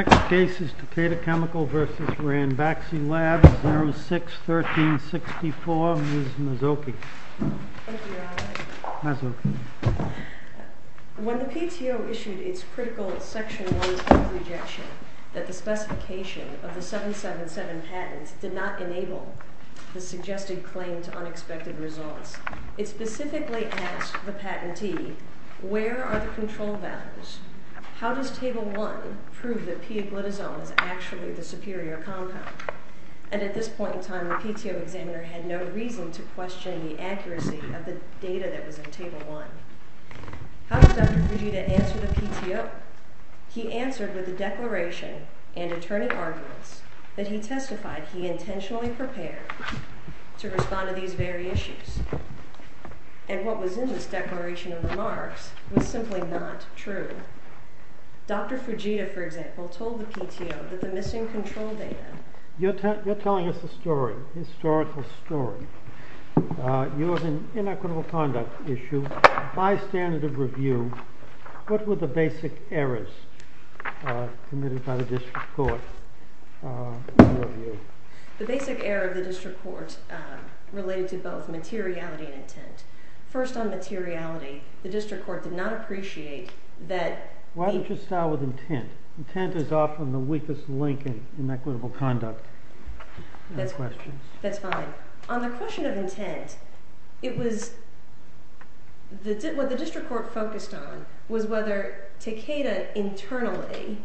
Takeda Chemical v. Ranbaxy Labs Next case is Takeda Chemical v. Ranbaxy Labs, 06-1364, Ms. Mazzocchi. Thank you, Your Honor. Mazzocchi. When the PTO issued its critical Section 1 patent rejection that the specification of the 777 patents did not enable the suggested claim to unexpected results, it specifically asked the patentee, where are the control values? How does Table 1 prove that P-glitazole is actually the superior compound? And at this point in time, the PTO examiner had no reason to question the accuracy of the data that was in Table 1. How did Dr. Fujita answer the PTO? He answered with a declaration and attorney arguments that he testified he intentionally prepared to respond to these very issues. And what was in this declaration of remarks was simply not true. Dr. Fujita, for example, told the PTO that the missing control data. You're telling us a story, a historical story. You have an inequitable conduct issue by standard of review. What were the basic errors committed by the district court in review? The basic error of the district court related to both materiality and intent. First on materiality, the district court did not appreciate that the- Why don't you start with intent? Intent is often the weakest link in equitable conduct. That's fine. On the question of intent, what the district court focused on was whether Takeda internally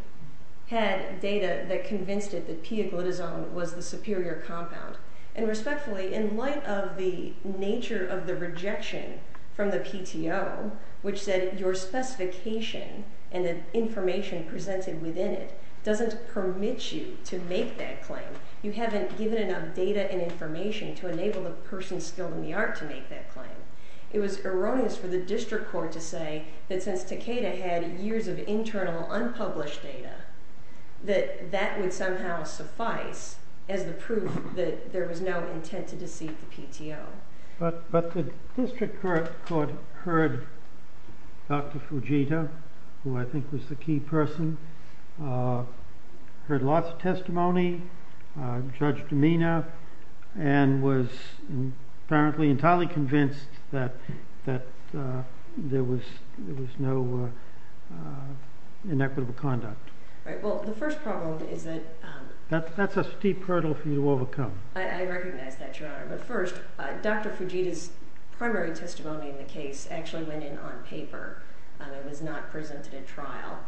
had data that convinced it that P-glitazole was the superior compound. And respectfully, in light of the nature of the rejection from the PTO, which said your specification and the information presented within it doesn't permit you to make that claim. You haven't given enough data and information to enable the person skilled in the art to make that claim. It was erroneous for the district court to say that since Takeda had years of internal unpublished data, that that would somehow suffice as the proof that there was no intent to deceive the PTO. But the district court heard Dr. Fujita, who I think was the key person, heard lots of testimony, Judge Domena, and was apparently entirely convinced that there was no inequitable conduct. Well, the first problem is that- That's a steep hurdle for you to overcome. I recognize that, Your Honor. But first, Dr. Fujita's primary testimony in the case actually went in on paper. It was not presented at trial.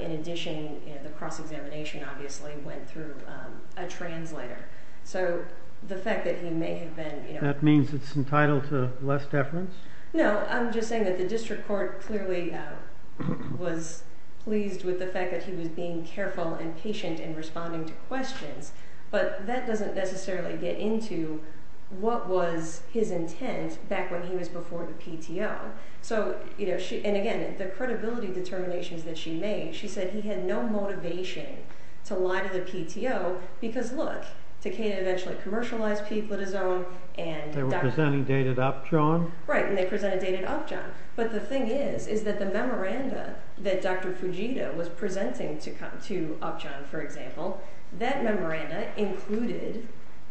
In addition, the cross-examination, obviously, went through a translator. So the fact that he may have been- That means it's entitled to less deference? No, I'm just saying that the district court clearly was pleased with the fact that he was being careful and patient in responding to questions. But that doesn't necessarily get into what was his intent back when he was before the PTO. And again, the credibility determinations that she made, she said he had no motivation to lie to the PTO because, look, Takeda eventually commercialized people at his own, and Dr. Fujita- Right, and they presented data to Upjohn. But the thing is, is that the memoranda that Dr. Fujita was presenting to Upjohn, for example, that memoranda included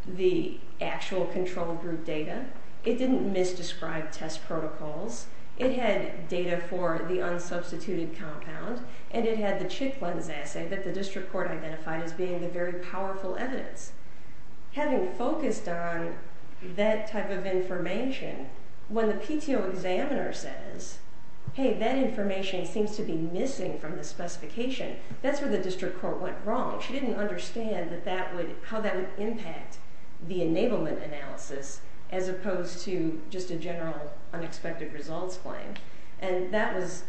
the actual control group data. It didn't misdescribe test protocols. It had data for the unsubstituted compound, and it had the chick lens assay that the district court identified as being the very powerful evidence. Having focused on that type of information, when the PTO examiner says, hey, that information seems to be missing from the specification, that's where the district court went wrong. She didn't understand that that would, how that would impact the enablement analysis as opposed to just a general unexpected results claim. And that was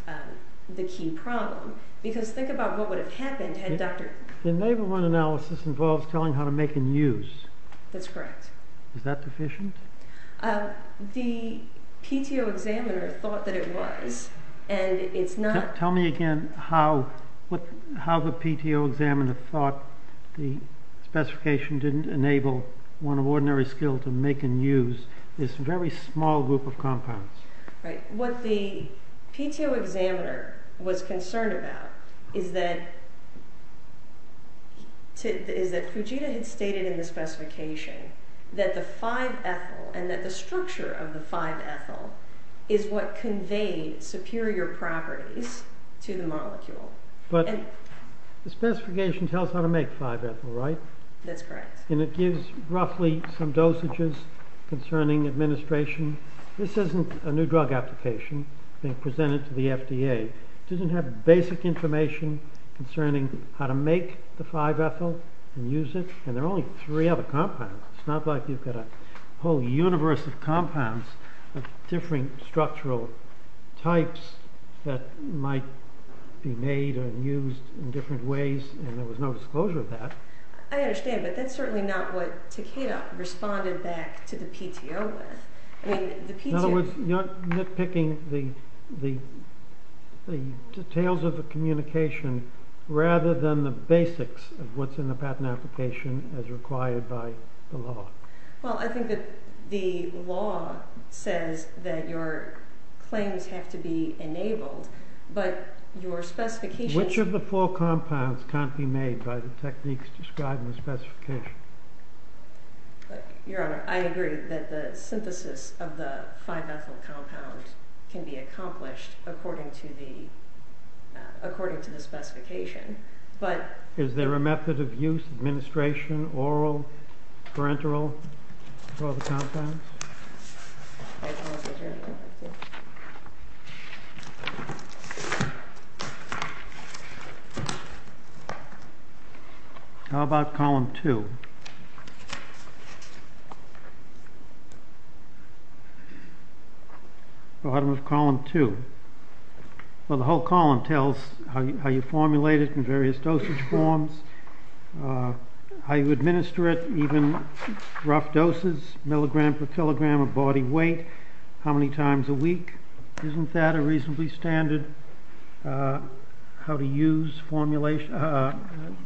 the key problem. Because think about what would have happened had Dr- Enablement analysis involves telling how to make and use. That's correct. Is that deficient? The PTO examiner thought that it was, and it's not- Tell me again how the PTO examiner thought the specification didn't enable one of ordinary skill to make and use this very small group of compounds. Right, what the PTO examiner was concerned about is that Fujita had stated in the specification that the 5-ethyl and that the structure of the 5-ethyl is what conveyed superior properties to the molecule. But the specification tells how to make 5-ethyl, right? That's correct. And it gives roughly some dosages concerning administration. This isn't a new drug application being presented to the FDA. It doesn't have basic information concerning how to make the 5-ethyl and use it. And there are only three other compounds. It's not like you've got a whole universe of compounds of different structural types that might be made and used in different ways. And there was no disclosure of that. I understand, but that's certainly not what Takeda responded back to the PTO with. I mean, the PTO- In other words, you're nitpicking the details of the communication rather than the basics of what's in the patent application as required by the law. Well, I think that the law says that your claims have to be enabled, but your specifications- Which of the four compounds can't be made by the techniques described in the specification? Your Honor, I agree that the synthesis of the 5-ethyl compound can be accomplished according to the specification, but- Is there a method of use, administration, oral, parenteral, for the compounds? How about column two? Go ahead. Bottom of column two. Well, the whole column tells how you formulate it in various dosage forms, how you administer it, even rough doses, milligram per kilogram of body weight, how many times a week. Isn't that a reasonably standard how to use formulation, a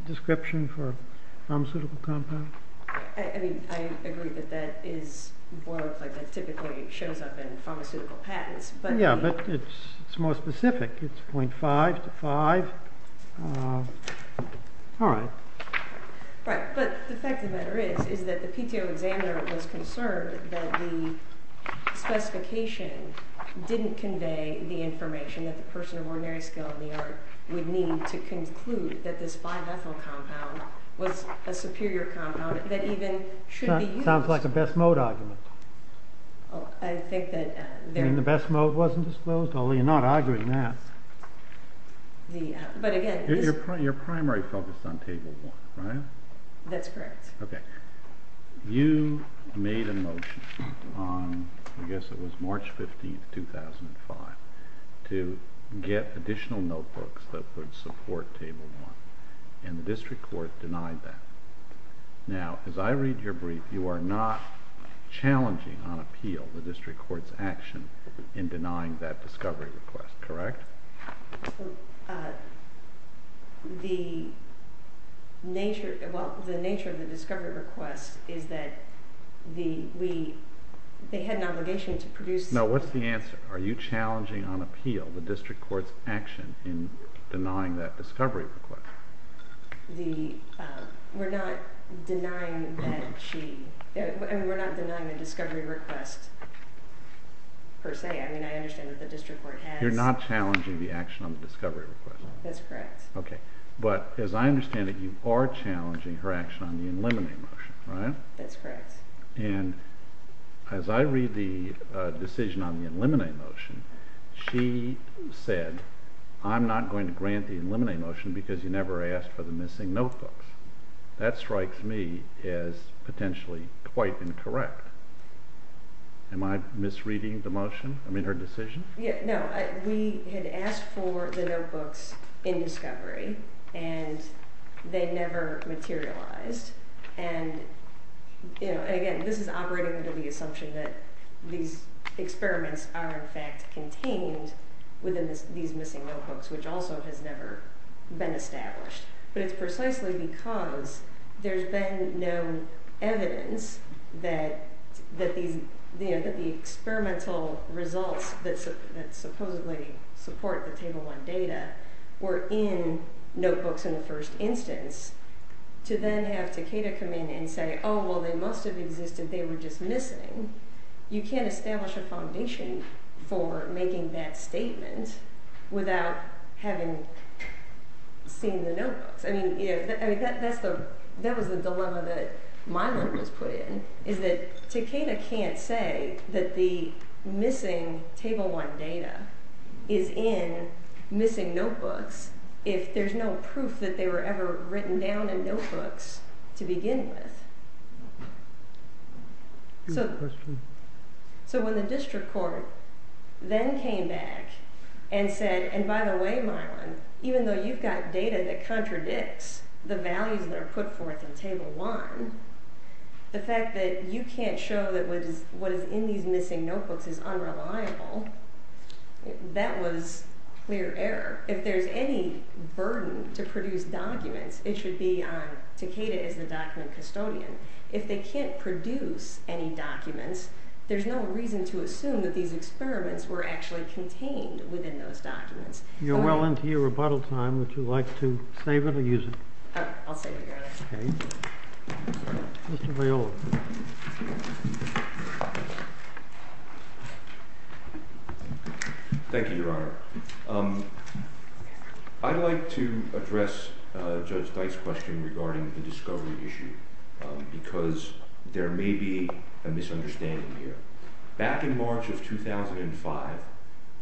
description for a pharmaceutical compound? I mean, I agree that that is more of like it typically shows up in pharmaceutical patents, but- Yeah, but it's more specific. It's 0.5 to five. All right. Right, but the fact of the matter is is that the PTO examiner was concerned that the specification didn't convey the information that the person of ordinary skill in the art would need to conclude that this 5-ethyl compound was a superior compound that even should be used- Sounds like a best mode argument. I think that- You mean the best mode wasn't disclosed? Well, you're not arguing that. But again- Your primary focus is on table one, right? That's correct. Okay. You made a motion on, I guess it was March 15th, 2005 to get additional notebooks that would support table one, and the district court denied that. Now, as I read your brief, you are not challenging on appeal the district court's action in denying that discovery request, correct? Well, the nature of the discovery request No, what's the answer? Are you challenging on appeal the district court's action in denying that discovery request? We're not denying that she, we're not denying the discovery request per se. I mean, I understand that the district court has- You're not challenging the action on the discovery request. That's correct. Okay. But as I understand it, you are challenging her action on the eliminate motion, right? That's correct. And as I read the decision on the eliminate motion, she said, I'm not going to grant the eliminate motion because you never asked for the missing notebooks. That strikes me as potentially quite incorrect. Am I misreading the motion? I mean, her decision? No, we had asked for the notebooks in discovery and they never materialized. And again, this is operating under the assumption that these experiments are in fact contained within these missing notebooks, which also has never been established. But it's precisely because there's been no evidence that the experimental results that supposedly support the table one data were in notebooks in the first instance to then have Takeda come in and say, oh, well, they must've existed. They were just missing. You can't establish a foundation for making that statement without having seen the notebooks. I mean, that was the dilemma that Milo was put in is that Takeda can't say that the missing table one data is in missing notebooks if there's no proof that they were ever written down in notebooks to begin with. So when the district court then came back and said, and by the way, Milo, even though you've got data that contradicts the values that are put forth in table one, the fact that you can't show that what is in these missing notebooks is unreliable, that was clear error. If there's any burden to produce documents, it should be on Takeda as the document custodian. If they can't produce any documents, there's no reason to assume that these experiments were actually contained within those documents. You're well into your rebuttal time. Would you like to save it or use it? Oh, I'll save it, Your Honor. Okay. Mr. Viola. Thank you, Your Honor. I'd like to address Judge Dyke's question regarding the discovery issue because there may be a misunderstanding here. Back in March of 2005,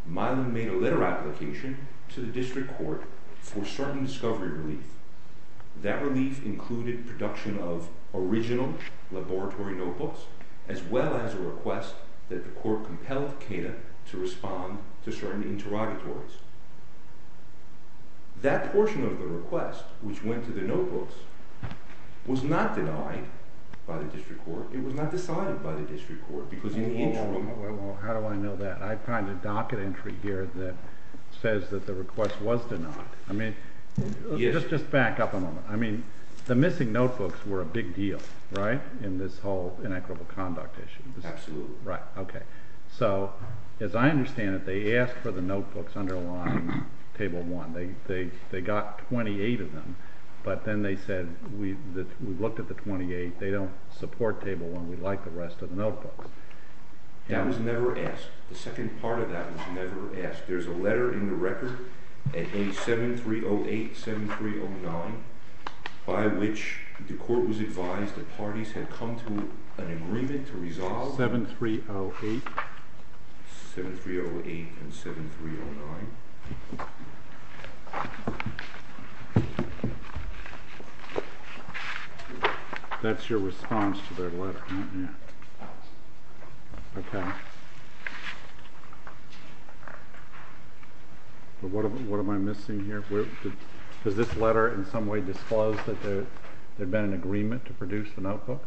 Milo made a letter application to the district court for certain discovery relief. That relief included production of original laboratory notebooks, as well as a request that the court compel Takeda to respond to certain interrogatories. That portion of the request, which went to the notebooks, was not denied by the district court. It was not decided by the district court because in the interim... How do I know that? I find a docket entry here that says that the request was denied. I mean, just back up a moment. I mean, the missing notebooks were a big deal, right? In this whole inequitable conduct issue. Absolutely. Right, okay. So, as I understand it, they asked for the notebooks underlying table one. They got 28 of them. But then they said, we've looked at the 28. They don't support table one. We'd like the rest of the notebooks. That was never asked. The second part of that was never asked. There's a letter in the record at page 7308, 7309, by which the court was advised that parties had come to an agreement to resolve. 7308? 7308 and 7309. That's your response to their letter, isn't it? Yes. Okay. But what am I missing here? Does this letter in some way disclose that there'd been an agreement to produce the notebooks?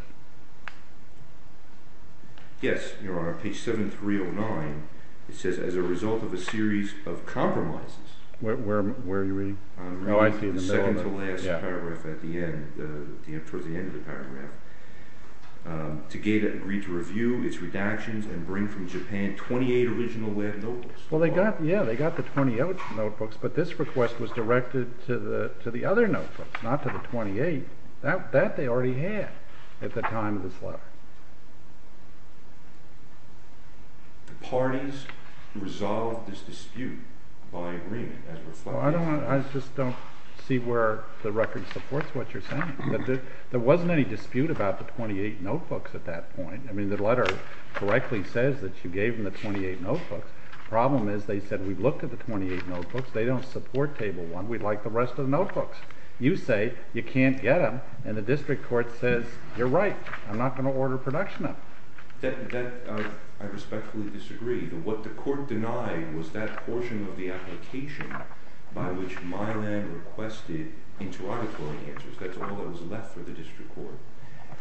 Yes, you're on page 7309. It says, as a result of a series of compromises. Where are you reading? Oh, I see the middle of it. The second to last paragraph at the end, towards the end of the paragraph. Tegeda agreed to review its redactions and bring from Japan 28 original lab notebooks. Well, yeah, they got the 20 original notebooks, but this request was directed to the other notebooks, not to the 28. That they already had at the time of this letter. The parties resolved this dispute by agreement, as reflected in the letter. Well, I just don't see where the record supports what you're saying. There wasn't any dispute about the 28 notebooks at that point. I mean, the letter correctly says that you gave them the 28 notebooks. Problem is, they said, we looked at the 28 notebooks. They don't support table one. We'd like the rest of the notebooks. You say, you can't get them, and the district court says, you're right. I'm not gonna order production of them. That, I respectfully disagree. What the court denied was that portion of the application by which Milan requested interrogatory answers. That's all that was left for the district court.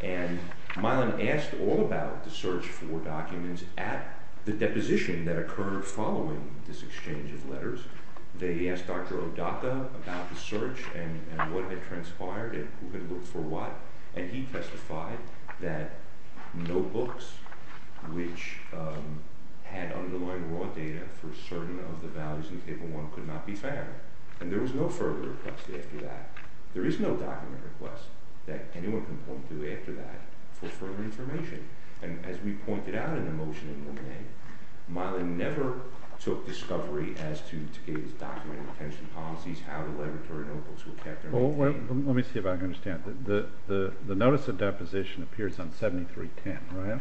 And Milan asked all about the search for documents at the deposition that occurred following this exchange of letters. They asked Dr. Odaka about the search and what had transpired and who had looked for what, and he testified that notebooks which had underlying raw data for certain of the values in table one could not be found. And there was no further request after that. There is no document request that anyone can point to after that for further information. And as we pointed out in the motion in one way, Milan never took discovery as to his document retention policies, how the laboratory notebooks were kept. Well, let me see if I can understand. The notice of deposition appears on 7310, right?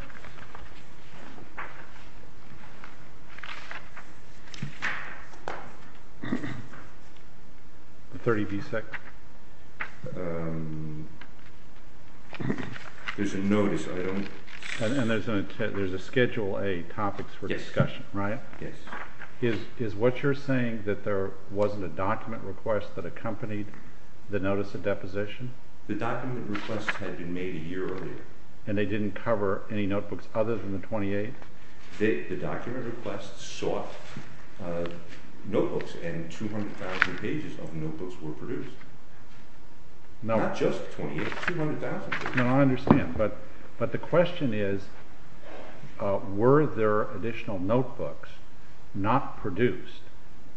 The 30 B-Sec? There's a notice, I don't... And there's a schedule A topics for discussion, right? Yes. Is what you're saying that there wasn't a document request that accompanied the notice of deposition? The document requests had been made a year earlier. And they didn't cover any notebooks other than the 28? The document requests sought notebooks and 200,000 pages of notebooks were produced. Not just 28, 200,000 pages. No, I understand. But the question is, were there additional notebooks not produced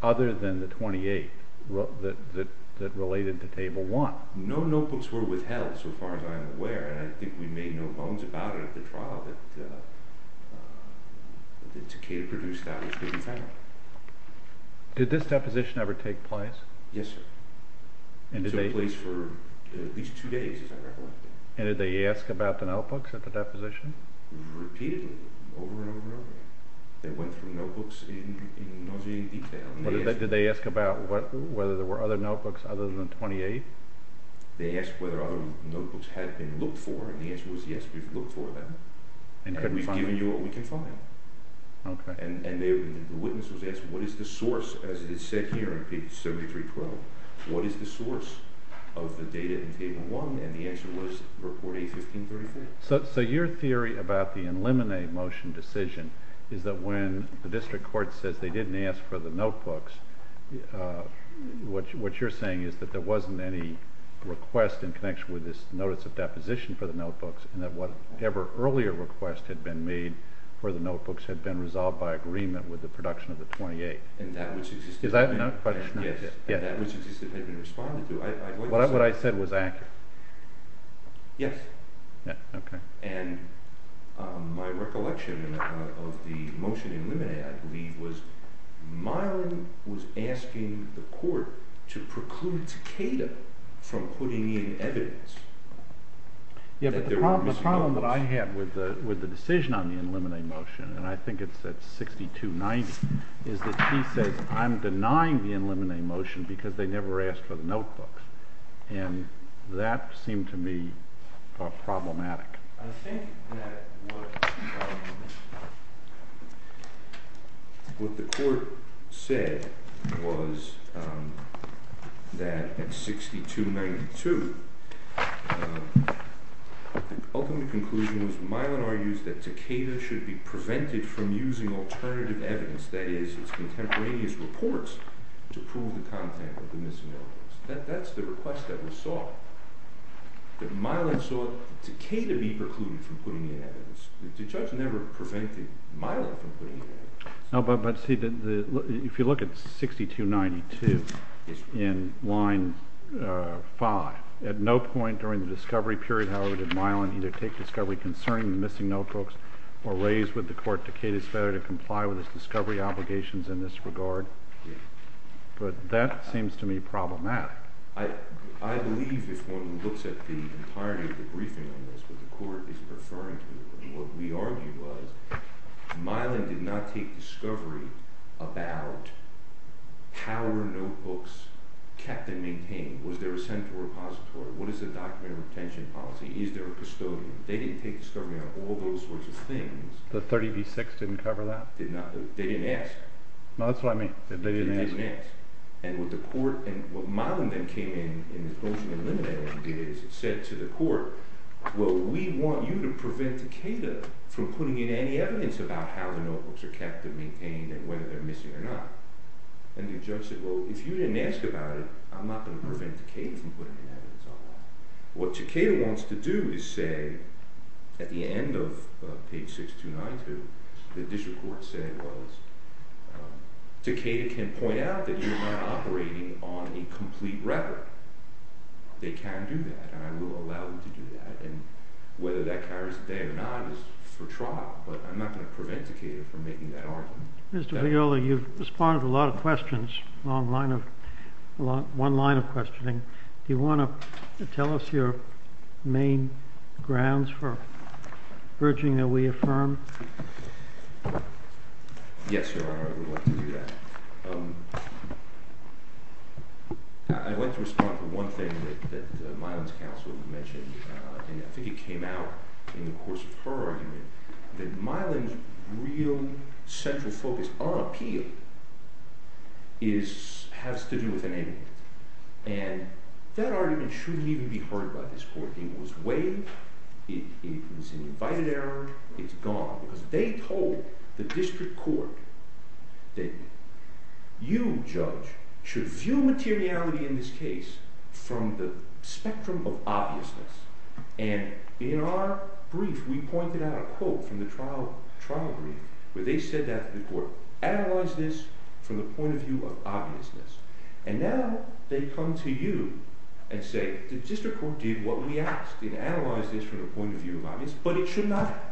other than the 28 that related to table one? No notebooks were withheld so far as I'm aware. And I think we made no bones about it at the trial that Takeda produced that was given to him. Did this deposition ever take place? Yes, sir. It took place for at least two days, as I recollect. And did they ask about the notebooks at the deposition? Repeatedly, over and over again. They went through notebooks in nauseating detail. Did they ask about whether there were other notebooks other than 28? They asked whether other notebooks had been looked for. And the answer was, yes, we've looked for them. And we've given you what we can find. Okay. And the witness was asked, what is the source as it is said here in page 73-12? What is the source of the data in table one? And the answer was report A-15-34. So your theory about the eliminate motion decision is that when the district court says they didn't ask for the notebooks, what you're saying is that there wasn't any request in connection with this notice of deposition for the notebooks, and that whatever earlier request had been made for the notebooks had been resolved by agreement with the production of the 28. And that which existed- Is that a question? Yes, and that which existed had been responded to. What I said was accurate. Yes. Yeah, okay. And my recollection of the motion eliminated, I believe, was Myron was asking the court to preclude Takeda from putting in evidence. Yeah, but the problem that I had with the decision on the eliminate motion, and I think it's at 6290, is that he says, I'm denying the eliminate motion because they never asked for the notebooks. And that seemed to me problematic. I think that what the court said was that at 6292, the ultimate conclusion was Myron argues that Takeda should be prevented from using alternative evidence, that is, its contemporaneous reports, to prove the content of the missing notebooks. That's the request that was sought. But Myron sought Takeda to be precluded from putting in evidence. The judge never prevented Myron from putting in evidence. No, but see, if you look at 6292 in line five, at no point during the discovery period, however, did Myron either take discovery concerning the missing notebooks or raise with the court Takeda's failure to comply with his discovery obligations in this regard. But that seems to me problematic. I believe, if one looks at the entirety of the briefing on this, what the court is referring to, what we argue was Myron did not take discovery about how were notebooks kept and maintained. Was there a central repository? What is the document retention policy? Is there a custodian? They didn't take discovery on all those sorts of things. The 30B6 didn't cover that? Did not, they didn't ask. No, that's what I mean, they didn't ask. And what the court, and what Myron then came in in the closing and limiting it is, said to the court, well, we want you to prevent Takeda from putting in any evidence about how the notebooks are kept and maintained and whether they're missing or not. And the judge said, well, if you didn't ask about it, I'm not gonna prevent Takeda from putting in evidence. What Takeda wants to do is say, at the end of page 6292, the district court said, well, Takeda can point out that you're not operating on a complete record. They can do that, and I will allow them to do that. And whether that carries a day or not is for trial, but I'm not gonna prevent Takeda from making that argument. Mr. Viola, you've responded to a lot of questions, a long line of, one line of questioning. Do you wanna tell us your main grounds for urging that we affirm? Yes, Your Honor, I would like to do that. I'd like to respond to one thing that Mylan's counsel had mentioned, and I think it came out in the course of her argument, that Mylan's real central focus on appeal is, has to do with enabling. And that argument shouldn't even be heard by this court. It was weighed, it was an invited error, it's gone. Because they told the district court that you, judge, should view materiality in this case from the spectrum of obviousness. And in our brief, we pointed out a quote from the trial brief, where they said that the court analyzed this from the point of view of obviousness. And now they come to you and say, the district court did what we asked, it analyzed this from the point of view of obviousness, but it should not have.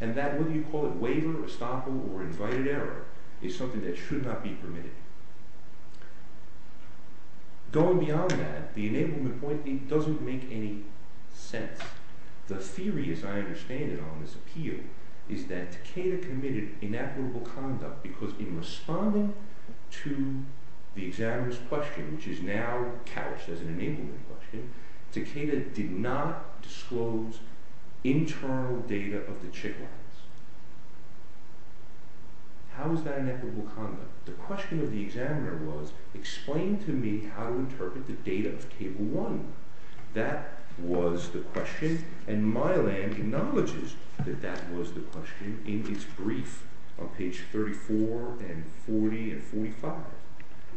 And that, whether you call it waiver, estoppel, or invited error, is something that should not be permitted. Going beyond that, the enablement point doesn't make any sense. The theory, as I understand it on this appeal, is that Takeda committed inadmirable conduct because in responding to the examiner's question, which is now couched as an enablement question, Takeda did not disclose internal data of the check lines. How is that inadmirable conduct? The question of the examiner was, explain to me how to interpret the data of Cable 1. That was the question, and Mylan acknowledges that that was the question in its brief on page 34 and 40 and 45.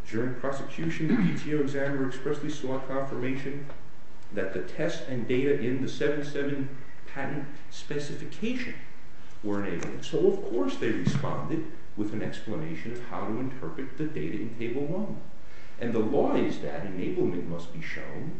During prosecution, the PTO examiner expressly sought confirmation that the test and data in the 7-7 patent specification were enabled. So of course they responded with an explanation of how to interpret the data in Cable 1. And the law is that enablement must be shown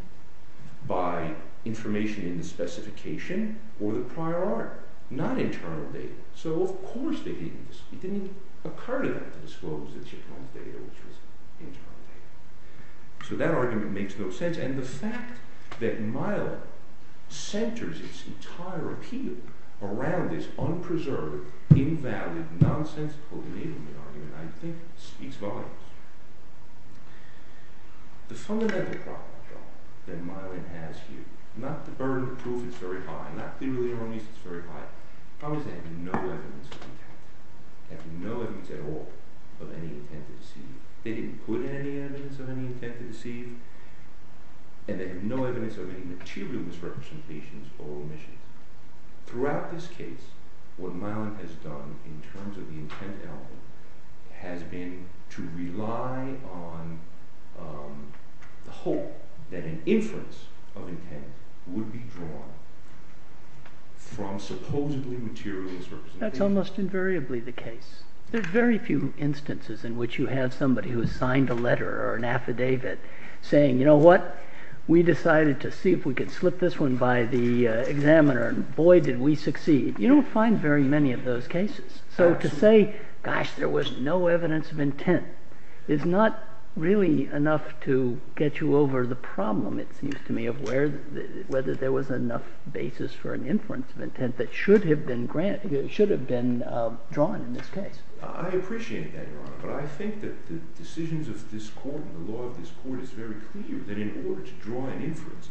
by information in the specification or the prior art, not internal data. So of course they didn't disclose, it didn't occur to them to disclose the check line data, which was internal data. So that argument makes no sense, and the fact that Mylan centers its entire appeal around this unpreserved, invalid, nonsensical enablement argument, I think, speaks volumes. The fundamental problem, though, that Mylan has here, not to burn the proof, it's very high, not clearly wrong, it's very high, the problem is they have no evidence of intent, have no evidence at all of any intent to deceive. They didn't put any evidence of any intent to deceive, and they have no evidence of any material misrepresentations or omissions. Throughout this case, what Mylan has done in terms of the intent element has been to rely on the hope that an inference of intent would be drawn from supposedly material misrepresentations. That's almost invariably the case. There's very few instances in which you have somebody who has signed a letter or an affidavit saying, you know what, we decided to see if we could slip this one by the examiner, and boy, did we succeed. You don't find very many of those cases. So to say, gosh, there was no evidence of intent is not really enough to get you over the problem, it seems to me, of whether there was enough basis for an inference of intent that should have been drawn in this case. I appreciate that, Your Honor, but I think that the decisions of this court and the law of this court is very clear that in order to draw an inference,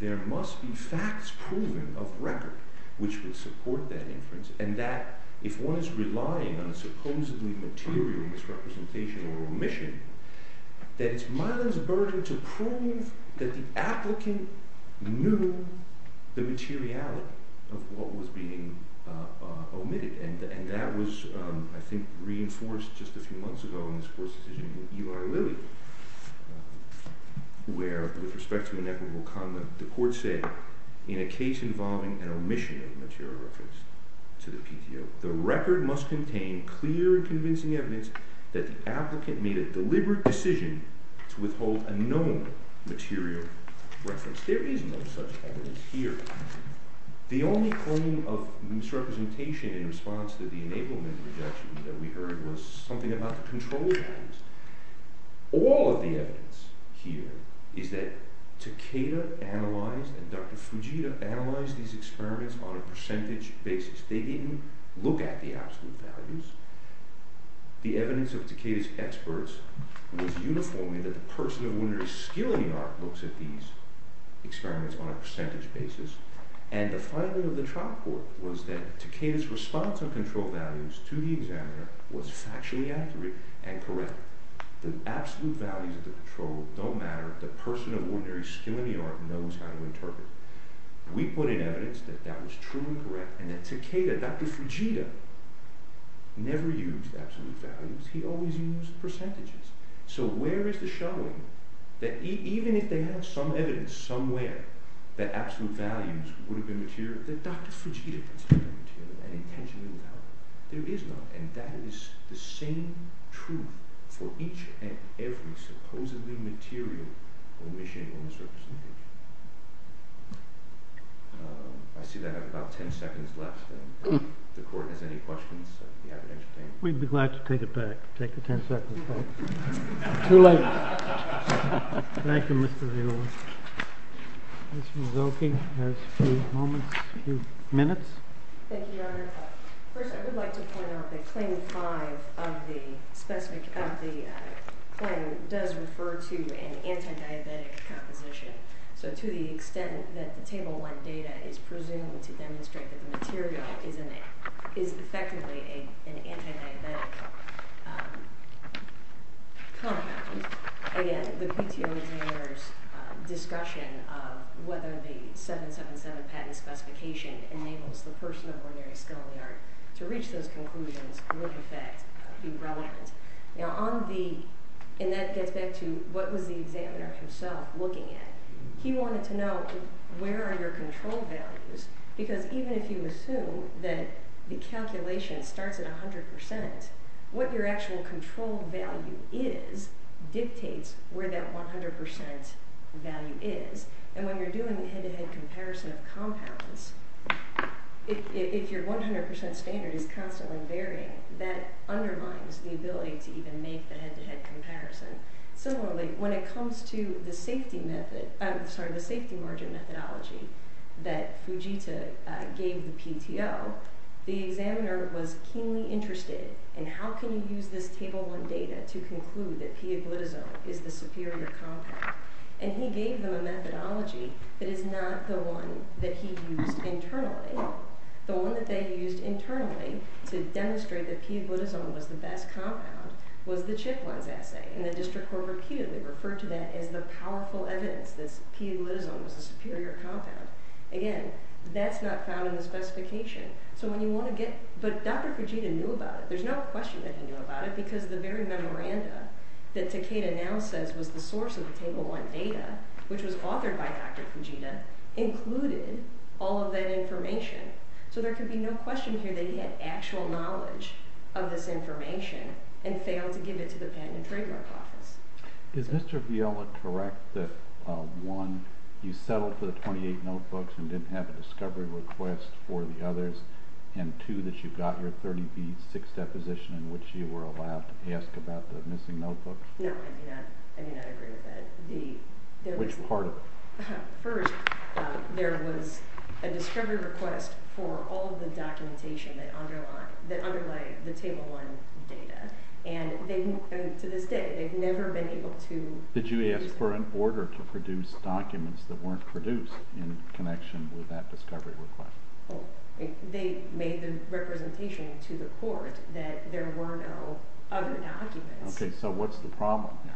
there must be facts proven of record which would support that inference, and that if one is relying on a supposedly material misrepresentation or omission, that it's Mylan's burden to prove that the applicant knew the materiality of what was being omitted, and that was, I think, reinforced just a few months ago in this court's decision with Eli Lilly, where, with respect to an equitable comment, the court said, in a case involving an omission of material reference to the PTO, the record must contain clear and convincing evidence that the applicant made a deliberate decision to withhold a known material reference. There is no such evidence here. The only claim of misrepresentation in response to the enablement rejection that we heard was something about the control values. All of the evidence here is that Takeda analyzed, and Dr. Fujita analyzed these experiments on a percentage basis. They didn't look at the absolute values. The evidence of Takeda's experts was uniform in that the person who under his skilling art looks at these experiments on a percentage basis, and the finding of the trial court was that Takeda's response on control values to the examiner was factually accurate and correct. The absolute values of the control don't matter. The person of ordinary skilling art knows how to interpret. We put in evidence that that was truly correct, and that Takeda, Dr. Fujita, never used absolute values. He always used percentages. So where is the showing that even if they had some evidence somewhere that absolute values would have been material, that Dr. Fujita considered them material and intentionally without? There is not, and that is the same truth for each and every supposedly material omission on the surface of the page. I see that I have about 10 seconds left. The court has any questions of the evidence? We'd be glad to take it back. Take the 10 seconds back. Too late. Thank you, Mr. Zillow. Ms. Mazzocchi has a few moments, a few minutes. Thank you, Your Honor. First, I would like to point out that Claim 5 of the claim does refer to an anti-diabetic composition. So to the extent that the Table 1 data is presumed to demonstrate that the material is effectively an anti-diabetic compound, again, the PTO examiner's discussion of whether the 777 patent specification enables the person of ordinary skill in the art to reach those conclusions would, in fact, be relevant. Now, on the, and that gets back to what was the examiner himself looking at? He wanted to know where are your control values because even if you assume that the calculation starts at 100%, what your actual control value is dictates where that 100% value is. And when you're doing the head-to-head comparison of compounds, if your 100% standard is constantly varying, that undermines the ability to even make the head-to-head comparison. Similarly, when it comes to the safety method, I'm sorry, the safety margin methodology that Fujita gave the PTO, the examiner was keenly interested in how can you use this Table 1 data to conclude that P-agglutazone is the superior compound. And he gave them a methodology that is not the one that he used internally. The one that they used internally to demonstrate that P-agglutazone was the best compound was the Chitlins assay, and the district court repeatedly referred to that as the powerful evidence that P-agglutazone was the superior compound. Again, that's not found in the specification. So when you want to get, but Dr. Fujita knew about it. There's no question that he knew about it because the very memoranda that Takeda now says was the source of the Table 1 data, which was authored by Dr. Fujita, included all of that information. So there could be no question here that he had actual knowledge of this information and failed to give it to the Patent and Trademark Office. Is Mr. Viola correct that, one, you settled for the 28 notebooks and didn't have a discovery request for the others, and two, that you got your 30B6 deposition in which you were allowed to ask about the missing notebook? No, I do not agree with that. Which part of it? First, there was a discovery request for all of the documentation that underlie the Table 1 data. And to this day, they've never been able to- Did you ask for an order to produce documents that weren't produced in connection with that discovery request? Well, they made the representation to the court that there were no other documents. Okay, so what's the problem here?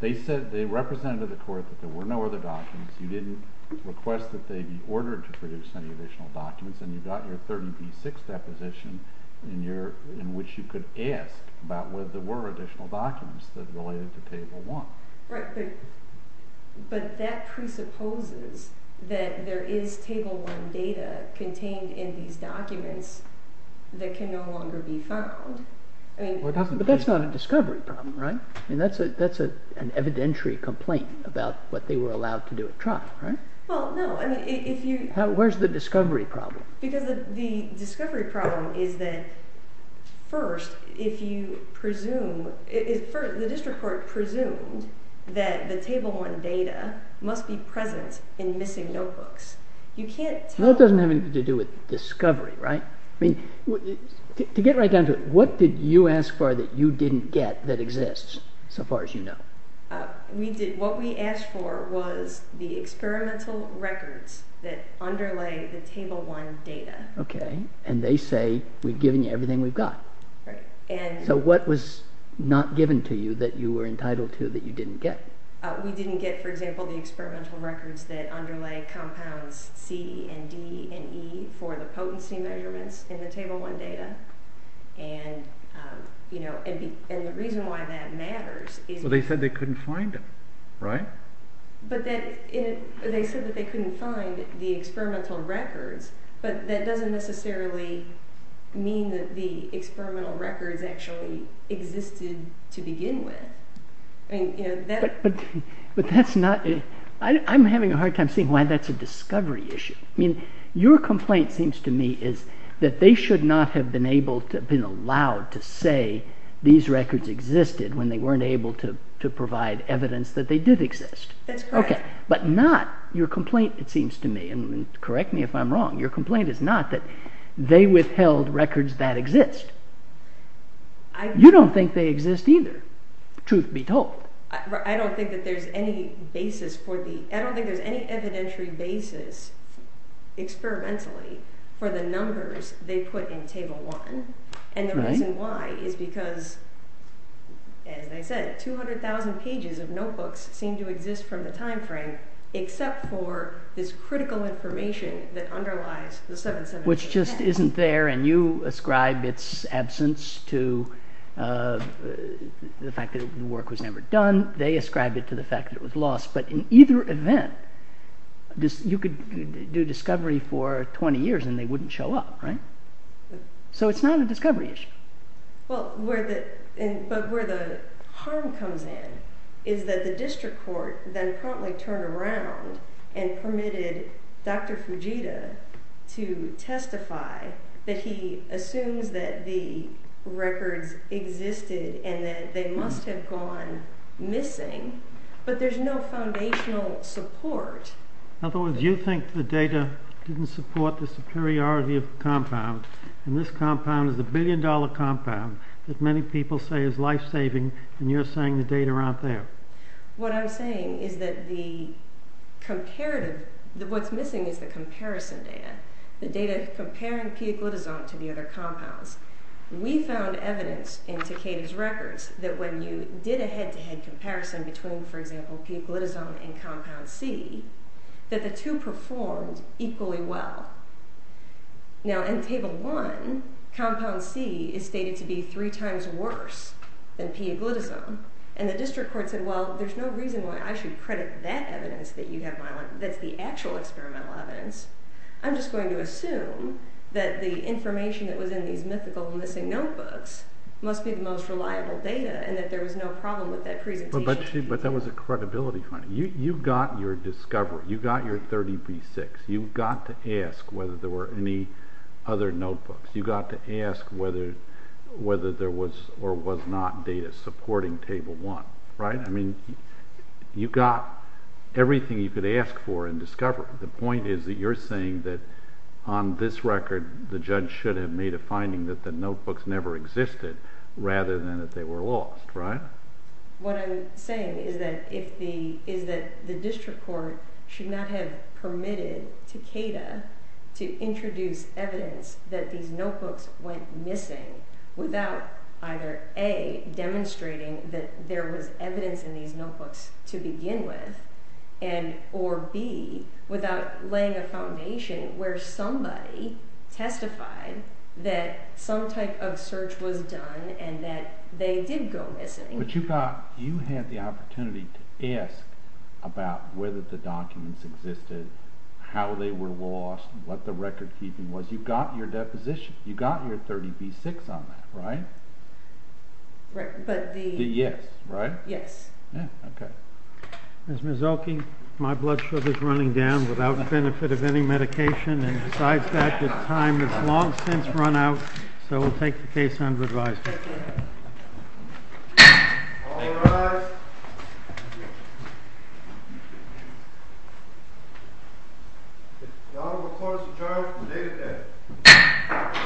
They said, they represented the court that there were no other documents. You didn't request that they be ordered to produce any additional documents, and you got your 30B6 deposition in which you could ask about whether there were additional documents that related to Table 1. Right, but that presupposes that there is Table 1 data contained in these documents that can no longer be found. But that's not a discovery problem, right? I mean, that's an evidentiary complaint about what they were allowed to do at trial, right? Well, no, I mean, if you- Where's the discovery problem? Because the discovery problem is that first, if you presume, the district court presumed that the Table 1 data must be present in missing notebooks. You can't tell- No, it doesn't have anything to do with discovery, right? I mean, to get right down to it, what did you ask for that you didn't get that exists, so far as you know? We did, what we asked for was the experimental records that underlay the Table 1 data. Okay, and they say, we've given you everything we've got. Right, and- So what was not given to you that you were entitled to that you didn't get? We didn't get, for example, the experimental records that underlay compounds C and D and E for the potency measurements in the Table 1 data. And the reason why that matters is- Well, they said they couldn't find them, right? But they said that they couldn't find the experimental records, but that doesn't necessarily mean that the experimental records actually existed to begin with, I mean, you know, that- But that's not, I'm having a hard time seeing why that's a discovery issue. I mean, your complaint seems to me is that they should not have been allowed to say these records existed when they weren't able to provide evidence that they did exist. That's correct. Okay, but not, your complaint, it seems to me, and correct me if I'm wrong, your complaint is not that they withheld records that exist. You don't think they exist either, truth be told. I don't think that there's any basis for the, I don't think there's any evidentiary basis experimentally for the numbers they put in Table 1. And the reason why is because, as I said, 200,000 pages of notebooks seem to exist from the time frame except for this critical information that underlies the 71710. Which just isn't there, and you ascribe its absence to the fact that the work was never done, they ascribe it to the fact that it was lost, but in either event, you could do discovery for 20 years and they wouldn't show up, right? So it's not a discovery issue. Well, but where the harm comes in is that the district court then promptly turned around and permitted Dr. Fujita to testify that he assumes that the records existed and that they must have gone missing, but there's no foundational support. In other words, you think the data didn't support the superiority of the compound, and this compound is a billion dollar compound that many people say is life-saving, and you're saying the data aren't there. What I'm saying is that the comparative, what's missing is the comparison data, the data comparing P-glitazone to the other compounds. We found evidence in Takeda's records that when you did a head-to-head comparison between, for example, P-glitazone and compound C, that the two performed equally well. Now, in table one, compound C is stated to be three times worse than P-glitazone, and the district court said, well, there's no reason why I should credit that evidence that you have, that's the actual experimental evidence. I'm just going to assume that the information that was in these mythical missing notebooks must be the most reliable data and that there was no problem with that presentation. But that was a credibility finding. You got your discovery. You got your 30B6. You got to ask whether there were any other notebooks. You got to ask whether there was or was not data supporting table one, right? I mean, you got everything you could ask for in discovery. The point is that you're saying that on this record, the judge should have made a finding that the notebooks never existed rather than that they were lost, right? What I'm saying is that the district court should not have permitted Takeda to introduce evidence that these notebooks went missing without either A, demonstrating that there was evidence in these notebooks to begin with, and or B, without laying a foundation where somebody testified that some type of search was done and that they did go missing. But you thought you had the opportunity to ask about whether the documents existed, how they were lost, what the record keeping was. You've got your deposition. You got your 30B6 on that, right? Right, but the- The yes, right? Yes. Yeah, okay. Ms. Mazzocchi, my blood sugar's running down without the benefit of any medication. And besides that, the time has long since run out. So we'll take the case under advisory. All rise. The order of the court is adjourned, the date of death.